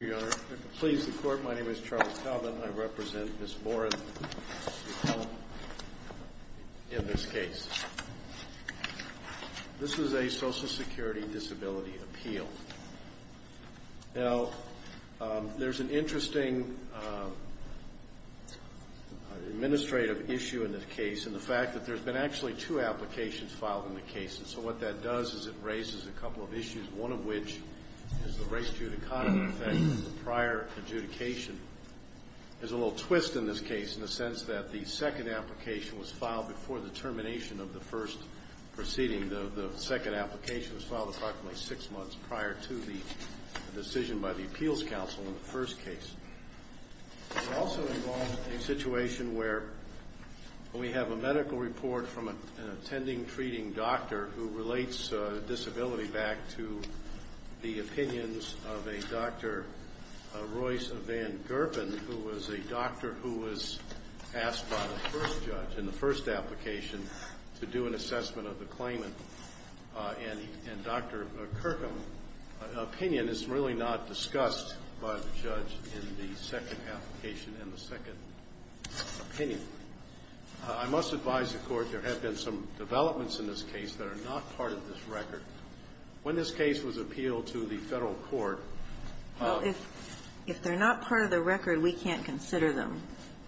Thank you, Your Honor. Please, the Court, my name is Charles Talbot and I represent Ms. Boren in this case. This is a Social Security Disability Appeal. Now, there's an interesting administrative issue in this case, and the fact that there's been actually two applications filed in the case, and so what that does is it raises a couple of issues, one of which is the race-judicata effect of the prior adjudication. There's a little twist in this case in the sense that the second application was filed before the termination of the first proceeding. The second application was filed approximately six months prior to the decision by the Appeals Council in the first case. It also involves a situation where we have a medical report from an attending treating doctor who relates disability back to the opinions of a Dr. Royce Van Gerpen, who was a doctor who was asked by the first judge in the first application to do an assessment of the claimant. And Dr. Kirkham's opinion is really not discussed by the judge in the second application and the second opinion. I must advise the Court there have been some developments in this case that are not part of this record. When this case was appealed to the Federal court, If they're not part of the record, we can't consider them.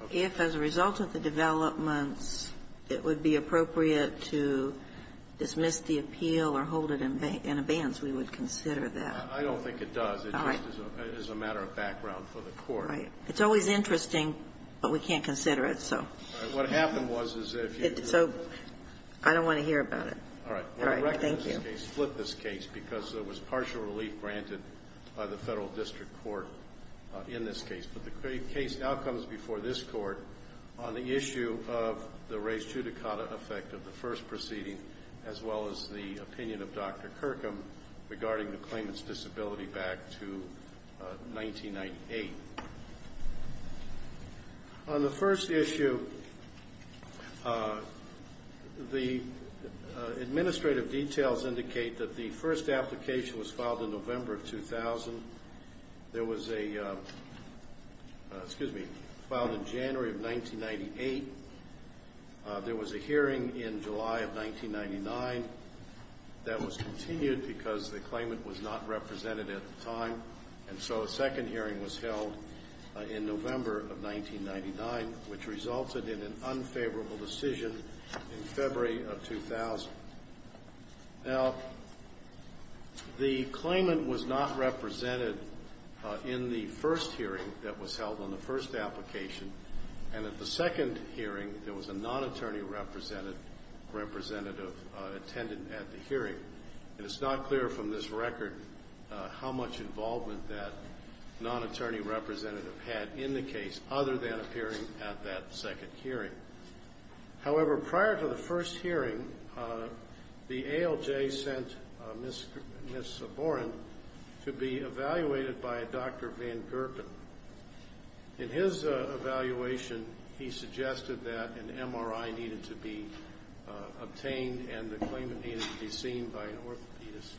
Okay. If, as a result of the developments, it would be appropriate to dismiss the appeal or hold it in abeyance, we would consider that. I don't think it does. All right. It just is a matter of background for the Court. Right. It's always interesting, but we can't consider it, so. All right. What happened was, is that if you. So, I don't want to hear about it. All right. All right. Thank you. We're going to recognize this case, flip this case, because there was partial relief granted by the Federal District Court in this case. But the case now comes before this Court on the issue of the res judicata effect of the first proceeding, as well as the opinion of Dr. Kirkham regarding the claimant's disability back to 1998. On the first issue, the administrative details indicate that the first application was filed in November of 2000. There was a, excuse me, filed in January of 1998. There was a hearing in July of 1999 that was continued because the claimant was not represented at the time. And so a second hearing was held in November of 1999, which resulted in an unfavorable decision in February of 2000. Now, the claimant was not represented in the first hearing that was held on the first application. And at the second hearing, there was a non-attorney representative attended at the hearing. And it's not clear from this record how much involvement that non-attorney representative had in the case, other than appearing at that second hearing. However, prior to the first hearing, the ALJ sent Ms. Soborin to be evaluated by Dr. Van Gerken. In his evaluation, he suggested that an MRI needed to be obtained and the claimant needed to be seen by an orthopedist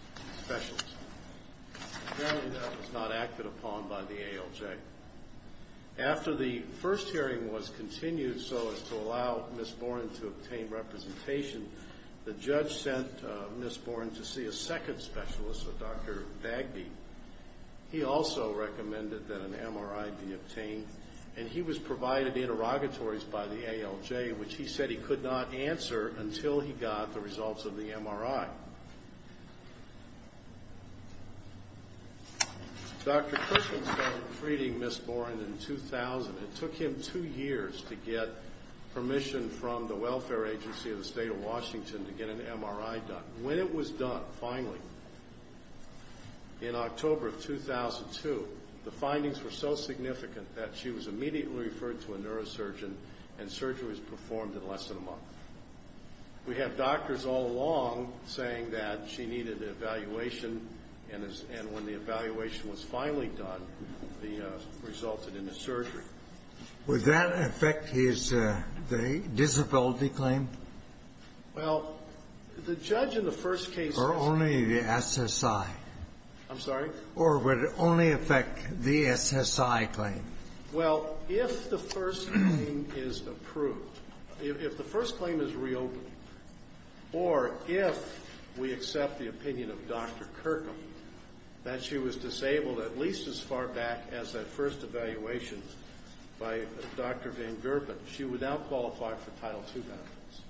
specialist. Apparently, that was not acted upon by the ALJ. After the first hearing was continued so as to allow Ms. Soborin to obtain representation, the judge sent Ms. Soborin to see a second specialist, a Dr. Bagby. He also recommended that an MRI be obtained. And he was provided interrogatories by the ALJ, which he said he could not answer until he got the results of the MRI. Dr. Cushing started treating Ms. Soborin in 2000. It took him two years to get permission from the Welfare Agency of the State of Washington to get an MRI done. When it was done, finally, in October of 2002, the findings were so significant that she was immediately referred to a neurosurgeon and surgery was performed in less than a month. We have doctors all along saying that she needed an evaluation, and when the evaluation was finally done, it resulted in a surgery. Would that affect his disability claim? Well, the judge in the first case... Or only the SSI? I'm sorry? Or would it only affect the SSI claim? Well, if the first claim is approved, if the first claim is reopened, or if we accept the opinion of Dr. Kirkham that she was disabled at least as far back as that first evaluation by Dr. Van Gerpen, she would now qualify for Title II benefits.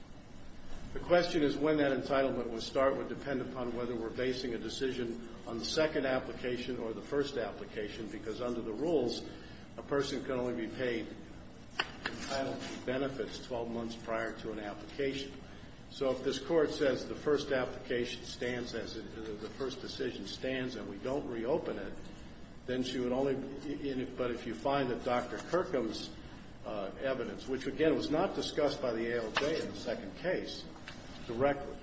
The question is when that entitlement would start would depend upon whether we're basing a decision on the second application or the first application, because under the rules, a person can only be paid Title II benefits 12 months prior to an application. So if this Court says the first application stands as the first decision stands and we don't reopen it, then she would only be in it. But if you find that Dr. Kirkham's evidence, which, again, was not discussed by the ALJ in the second case directly,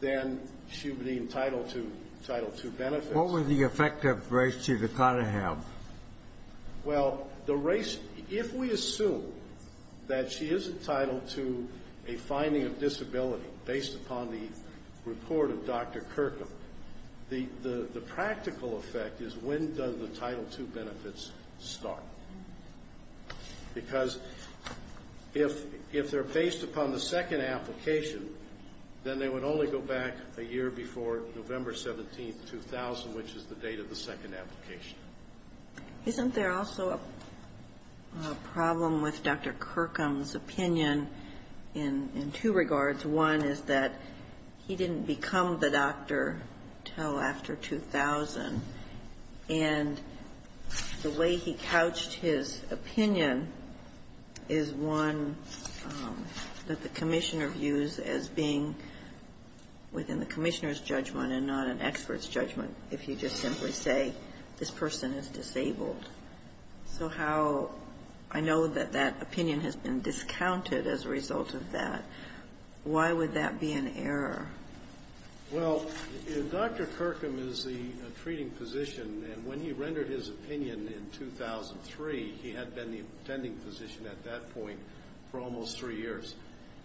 then she would be entitled to Title II benefits. What would the effect of Race to the Conahab? Well, the Race... If we assume that she is entitled to a finding of disability based upon the report of Dr. Kirkham, the practical effect is when does the Title II benefits start? Because if they're based upon the second application, then they would only go back a year before November 17, 2000, which is the date of the second application. Isn't there also a problem with Dr. Kirkham's opinion in two regards? One is that he didn't become the doctor until after 2000, and the way he couched his opinion is one that the Commissioner views as being within the Commissioner's judgment and not an expert's judgment if you just simply say this person is disabled. So how... I know that that opinion has been discounted as a result of that. Why would that be an error? Well, Dr. Kirkham is the treating physician, and when he rendered his opinion in 2003, he had been the attending physician at that point for almost three years.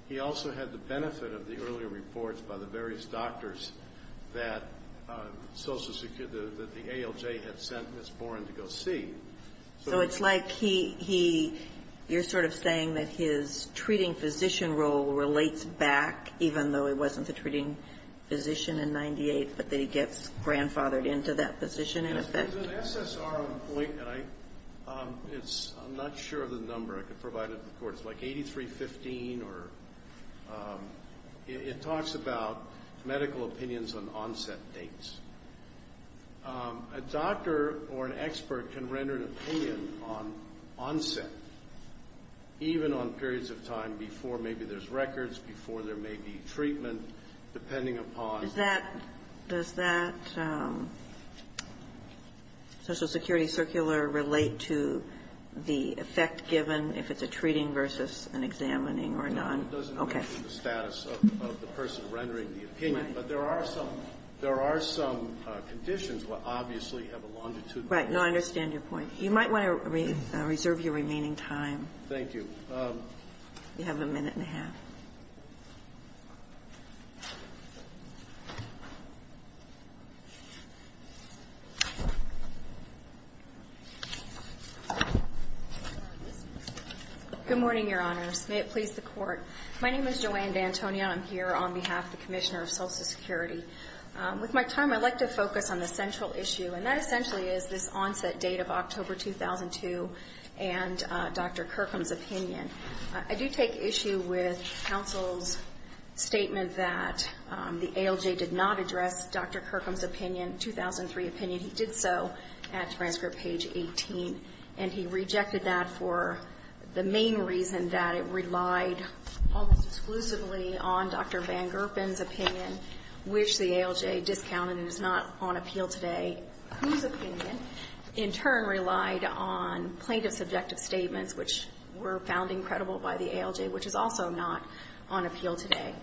He also had the benefit of the earlier reports by the various doctors that the ALJ had sent Ms. Boren to go see. So it's like he... You're sort of saying that his treating physician role relates back, even though he wasn't the treating physician in 98, but that he gets grandfathered into that position in effect? There's an SSR on point, and I'm not sure of the number. I could provide it to the court. It's like 8315, or it talks about medical opinions on onset dates. A doctor or an expert can render an opinion on onset, even on periods of time before maybe there's records, before there may be treatment, depending upon... Does that Social Security Circular relate to the effect given if it's a treating versus an examining or non? It doesn't mention the status of the person rendering the opinion. Right. But there are some conditions that obviously have a longitude. Right. No, I understand your point. You might want to reserve your remaining time. Thank you. You have a minute and a half. Good morning, Your Honors. May it please the court. My name is Joanne D'Antonio. I'm here on behalf of the Commissioner of Social Security. With my time, I'd like to focus on the central issue, and that essentially is this onset date of October 2002 and Dr. Kirkham's opinion. I do take issue with counsel's statement that the ALJ did not address Dr. Kirkham's opinion, 2003 opinion. He did so at transcript page 18, and he rejected that for the main reason that it relied almost exclusively on Dr. Van Gerpen's opinion, which the ALJ discounted and is not on appeal today. Whose opinion, in turn, relied on plaintiff's objective statements, which were found incredible by the ALJ, which is also not on appeal today.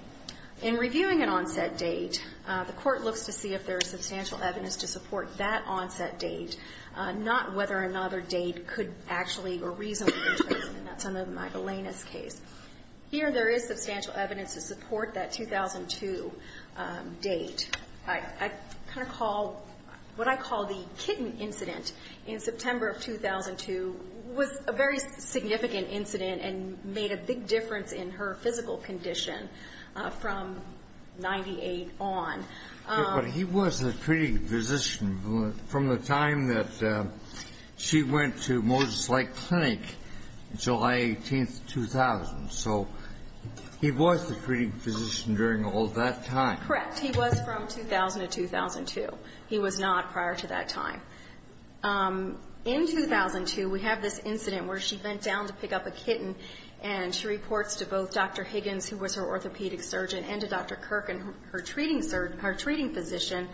In reviewing an onset date, the Court looks to see if there is substantial evidence to support that onset date, not whether another date could actually or reasonably address it, and that's under the Magdalena's case. Here, there is substantial evidence to support that 2002 date. I kind of call, what I call the kitten incident in September of 2002 was a very significant incident and made a big difference in her physical condition from 98 on. But he was a treating physician from the time that she went to Moses Lake Clinic, July 18, 2000, so he was the treating physician during all that time. Correct. He was from 2000 to 2002. He was not prior to that time. In 2002, we have this incident where she bent down to pick up a kitten, and she reports to both Dr. Higgins, who was her orthopedic surgeon, and to Dr. Kirk, her treating physician,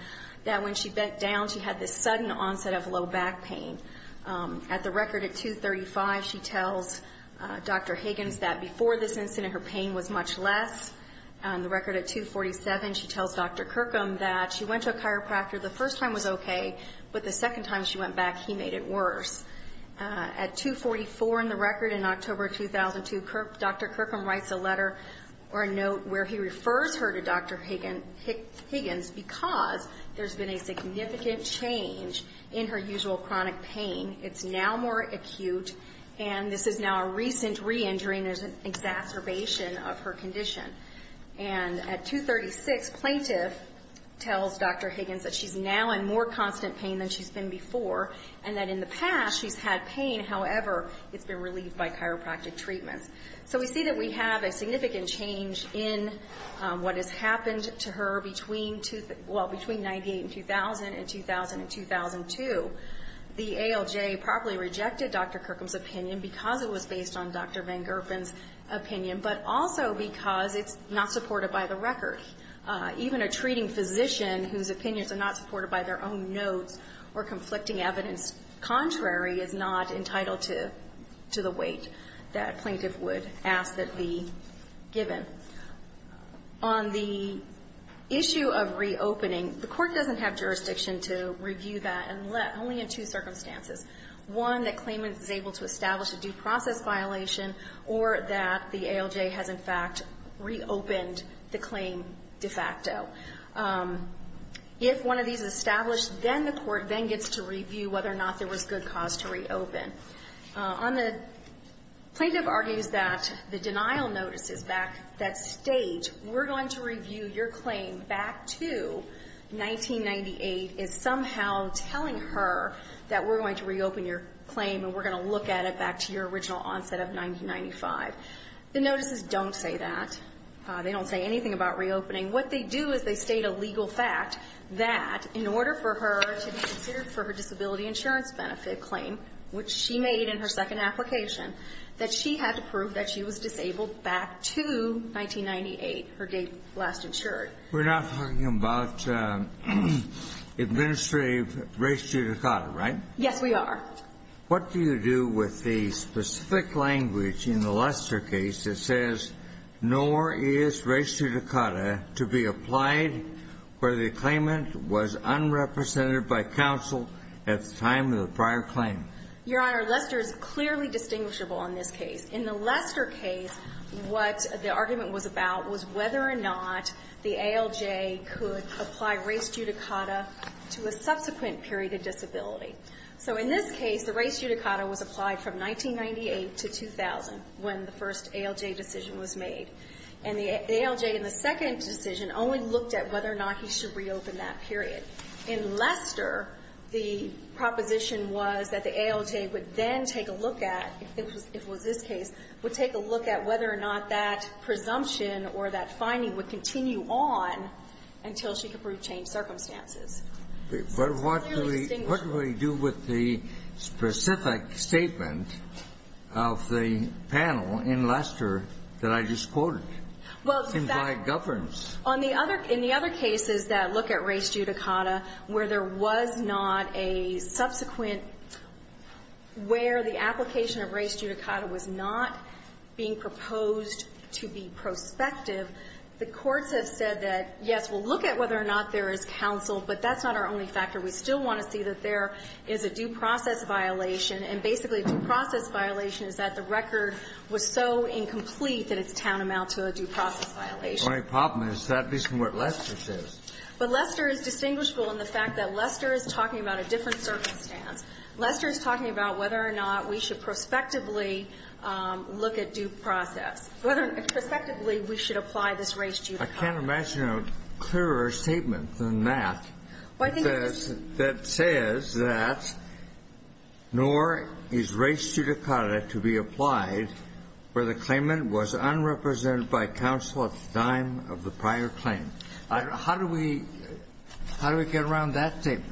that when she bent down, she had this sudden onset of low back pain. At the record at 235, she tells Dr. Higgins that before this incident, her pain was much less. The record at 247, she tells Dr. Kirkham that she went to a chiropractor. The first time was okay, but the second time she went back, he made it worse. At 244 in the record in October of 2002, Dr. Kirkham writes a letter or a note where he refers her to Dr. Higgins because there's been a significant change in her usual chronic pain. It's now more acute, and this is now a recent re-injury, and there's an exacerbation of her condition. And at 236, Plaintiff tells Dr. Higgins that she's now in more constant pain than she's been before, and that in the past, she's had pain. However, it's been relieved by chiropractic treatments. So we see that we have a significant change in what has happened to her between 98 and 2000, and 2000 and 2002. The ALJ probably rejected Dr. Kirkham's opinion because it was based on Dr. Van Gerpen's opinion, but also because it's not supported by the record. Even a treating physician whose opinions are not supported by their own notes or conflicting evidence contrary is not entitled to the weight that Plaintiff would ask that be given. On the issue of reopening, the Court doesn't have jurisdiction to review that, and only in two circumstances. One, that claimant is able to establish a due process violation, or that the ALJ has, in fact, reopened the claim de facto. If one of these is established, then the Court then gets to review whether or not there was good cause to reopen. On the plaintiff argues that the denial notices back that state, we're going to review your claim back to 1998, is somehow telling her that we're going to reopen your claim and we're going to look at it back to your original onset of 1995. The notices don't say that. They don't say anything about reopening. What they do is they state a legal fact that in order for her to be considered for her disability insurance benefit claim, which she made it in her second application, that she had to prove that she was disabled back to 1998, her date last insured. We're not talking about administrative res judicata, right? Yes, we are. What do you do with the specific language in the Lester case that says, nor is res judicata to be applied where the claimant was unrepresented by counsel at the time of the prior claim? Your Honor, Lester is clearly distinguishable in this case. In the Lester case, what the argument was about was whether or not the ALJ could apply res judicata to a subsequent period of disability. So in this case, the res judicata was applied from 1998 to 2000 when the first ALJ decision was made. And the ALJ in the second decision only looked at whether or not he should reopen that period. In Lester, the proposition was that the ALJ would then take a look at, if it was this case, would take a look at whether or not that presumption or that finding would continue on until she could prove changed circumstances. But what do we do with the specific statement of the panel in Lester that I just quoted? Well, in fact In my governance. In the other cases that look at res judicata where there was not a subsequent where the application of res judicata was not being proposed to be prospective, the courts have said that, yes, we'll look at whether or not there is counsel, but that's not our only factor. We still want to see that there is a due process violation. And basically, due process violation is that the record was so incomplete that it's tantamount to a due process violation. The only problem is that isn't what Lester says. But Lester is distinguishable in the fact that Lester is talking about a different circumstance. Lester is talking about whether or not we should prospectively look at due process, whether prospectively we should apply this res judicata. I can't imagine a clearer statement than that that says that nor is res judicata to be applied where the claimant was unrepresented by counsel at the time of the prior claim. How do we get around that statement?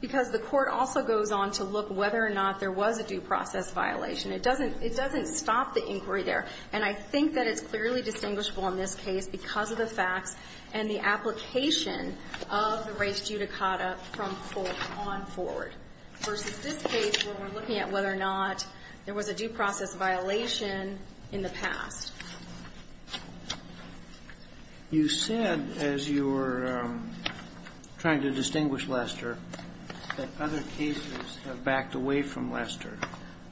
Because the court also goes on to look whether or not there was a due process violation. It doesn't stop the inquiry there. And I think that it's clearly distinguishable in this case because of the facts and the application of the res judicata from forth on forward, versus this case where we're looking at whether or not there was a due process violation in the past. You said as you were trying to distinguish Lester that other cases have backed away from Lester.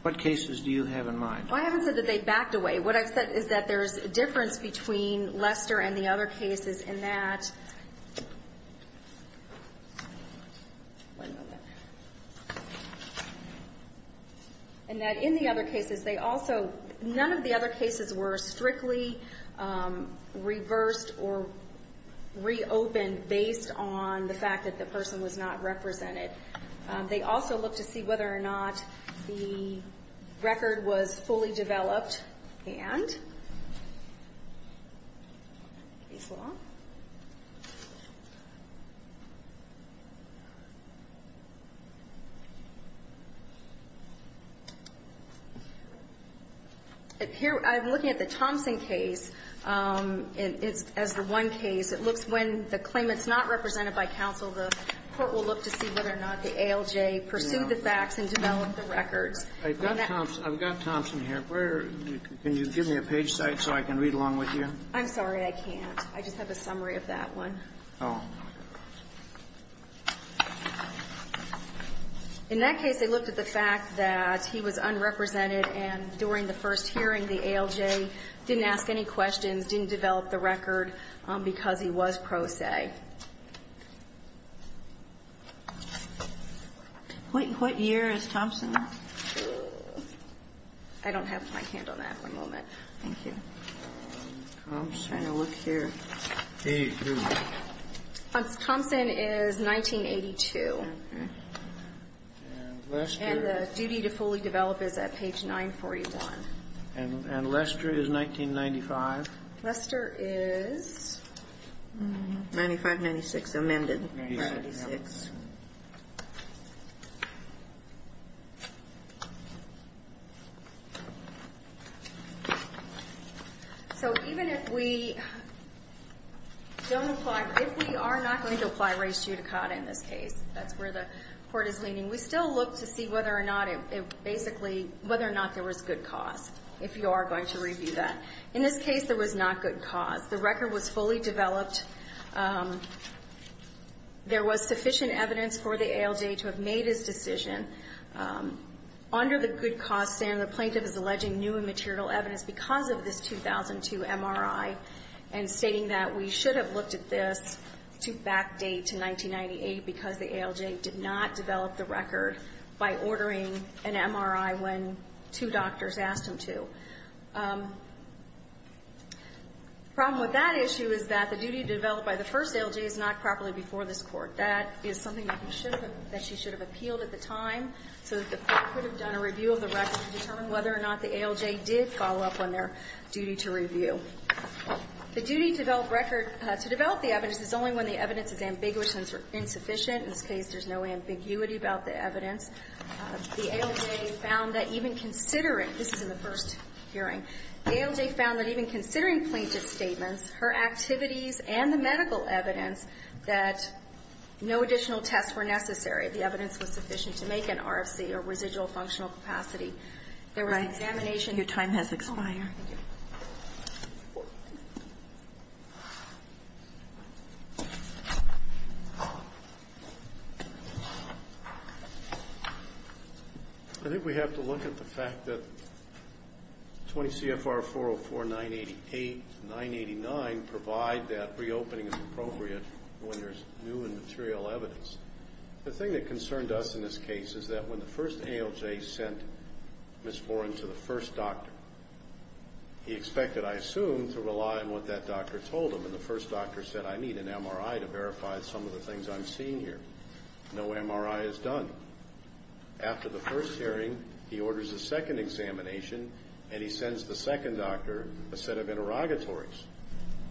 What cases do you have in mind? Well, I haven't said that they backed away. What I've said is that there's a difference between Lester and the other cases in that none of the other cases were strictly reversed or reopened based on the fact that the person was not represented. They also looked to see whether or not the record was fully developed and developed. I'm looking at the Thompson case as the one case. It looks when the claimant's not represented by counsel, the court will look to see whether or not the ALJ pursued the facts and developed the records. I've got Thompson here. Can you give me a page site so I can read along with you? I'm sorry. I can't. I just have a summary of that one. Oh. In that case, they looked at the fact that he was unrepresented and during the first hearing, the ALJ didn't ask any questions, didn't develop the record because he was pro se. What year is Thompson? I don't have my hand on that at the moment. Thank you. I'm trying to look here. Thompson is 1982. And Lester. And the duty to fully develop is at page 941. And Lester is 1995? Lester is 95-96, amended 96. So even if we don't apply, if we are not going to apply race judicata in this case, that's where the court is leaning, we still look to see whether or not it basically, whether or not there was good cause, if you are going to review that. In this case, there was not good cause. The record was fully developed. There was sufficient evidence for the ALJ to have made his decision. Under the good cause standard, the plaintiff is alleging new and material evidence because of this 2002 MRI and stating that we should have looked at this to back date to 1998 because the ALJ did not develop the record by ordering an MRI when two doctors asked him to. The problem with that issue is that the duty developed by the first ALJ is not properly before this Court. That is something that we should have, that she should have appealed at the time so that the Court could have done a review of the record to determine whether or not the ALJ did follow up on their duty to review. The duty to develop record, to develop the evidence is only when the evidence is ambiguous and insufficient. In this case, there's no ambiguity about the evidence. The ALJ found that even considering, this is in the first hearing, the ALJ found that even considering plaintiff's statements, her activities and the medical evidence that no additional tests were necessary. The evidence was sufficient to make an RFC or residual functional capacity. There was an examination. Your time has expired. Thank you. I think we have to look at the fact that 20 CFR 404-988-989 provide that reopening as appropriate when there's new and material evidence. The thing that concerned us in this case is that when the first ALJ sent Ms. Foran to the first doctor, he expected, I assume, to rely on what that doctor told him, and the first doctor said, I need an MRI to verify some of the things I'm seeing here. No MRI is done. After the first hearing, he orders a second examination, and he sends the second doctor a set of interrogatories,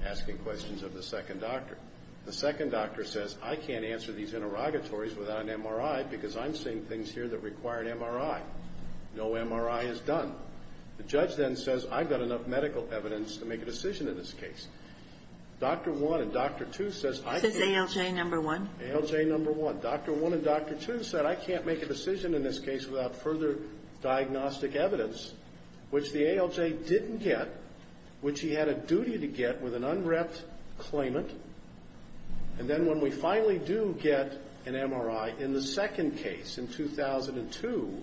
asking questions of the second doctor. The second doctor says, I can't answer these interrogatories without an MRI because I'm seeing things here that require an MRI. No MRI is done. The judge then says, I've got enough medical evidence to make a decision in this case. Doctor one and doctor two says, I can't. This is ALJ number one? ALJ number one. Doctor one and doctor two said, I can't make a decision in this case without further diagnostic evidence, which the ALJ didn't get, which he had a duty to get with an unwrapped claimant. And then when we finally do get an MRI in the second case in 2002,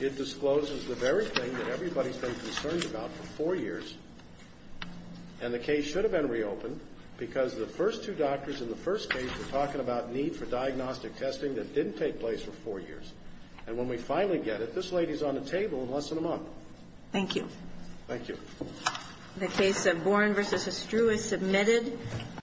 it discloses the very thing that everybody's been concerned about for four years, and the case should have been reopened because the first two doctors in the first case were concerned about need for diagnostic testing that didn't take place for four years. And when we finally get it, this lady's on the table in less than a month. Thank you. Thank you. The case of Boren v. Estrue is submitted.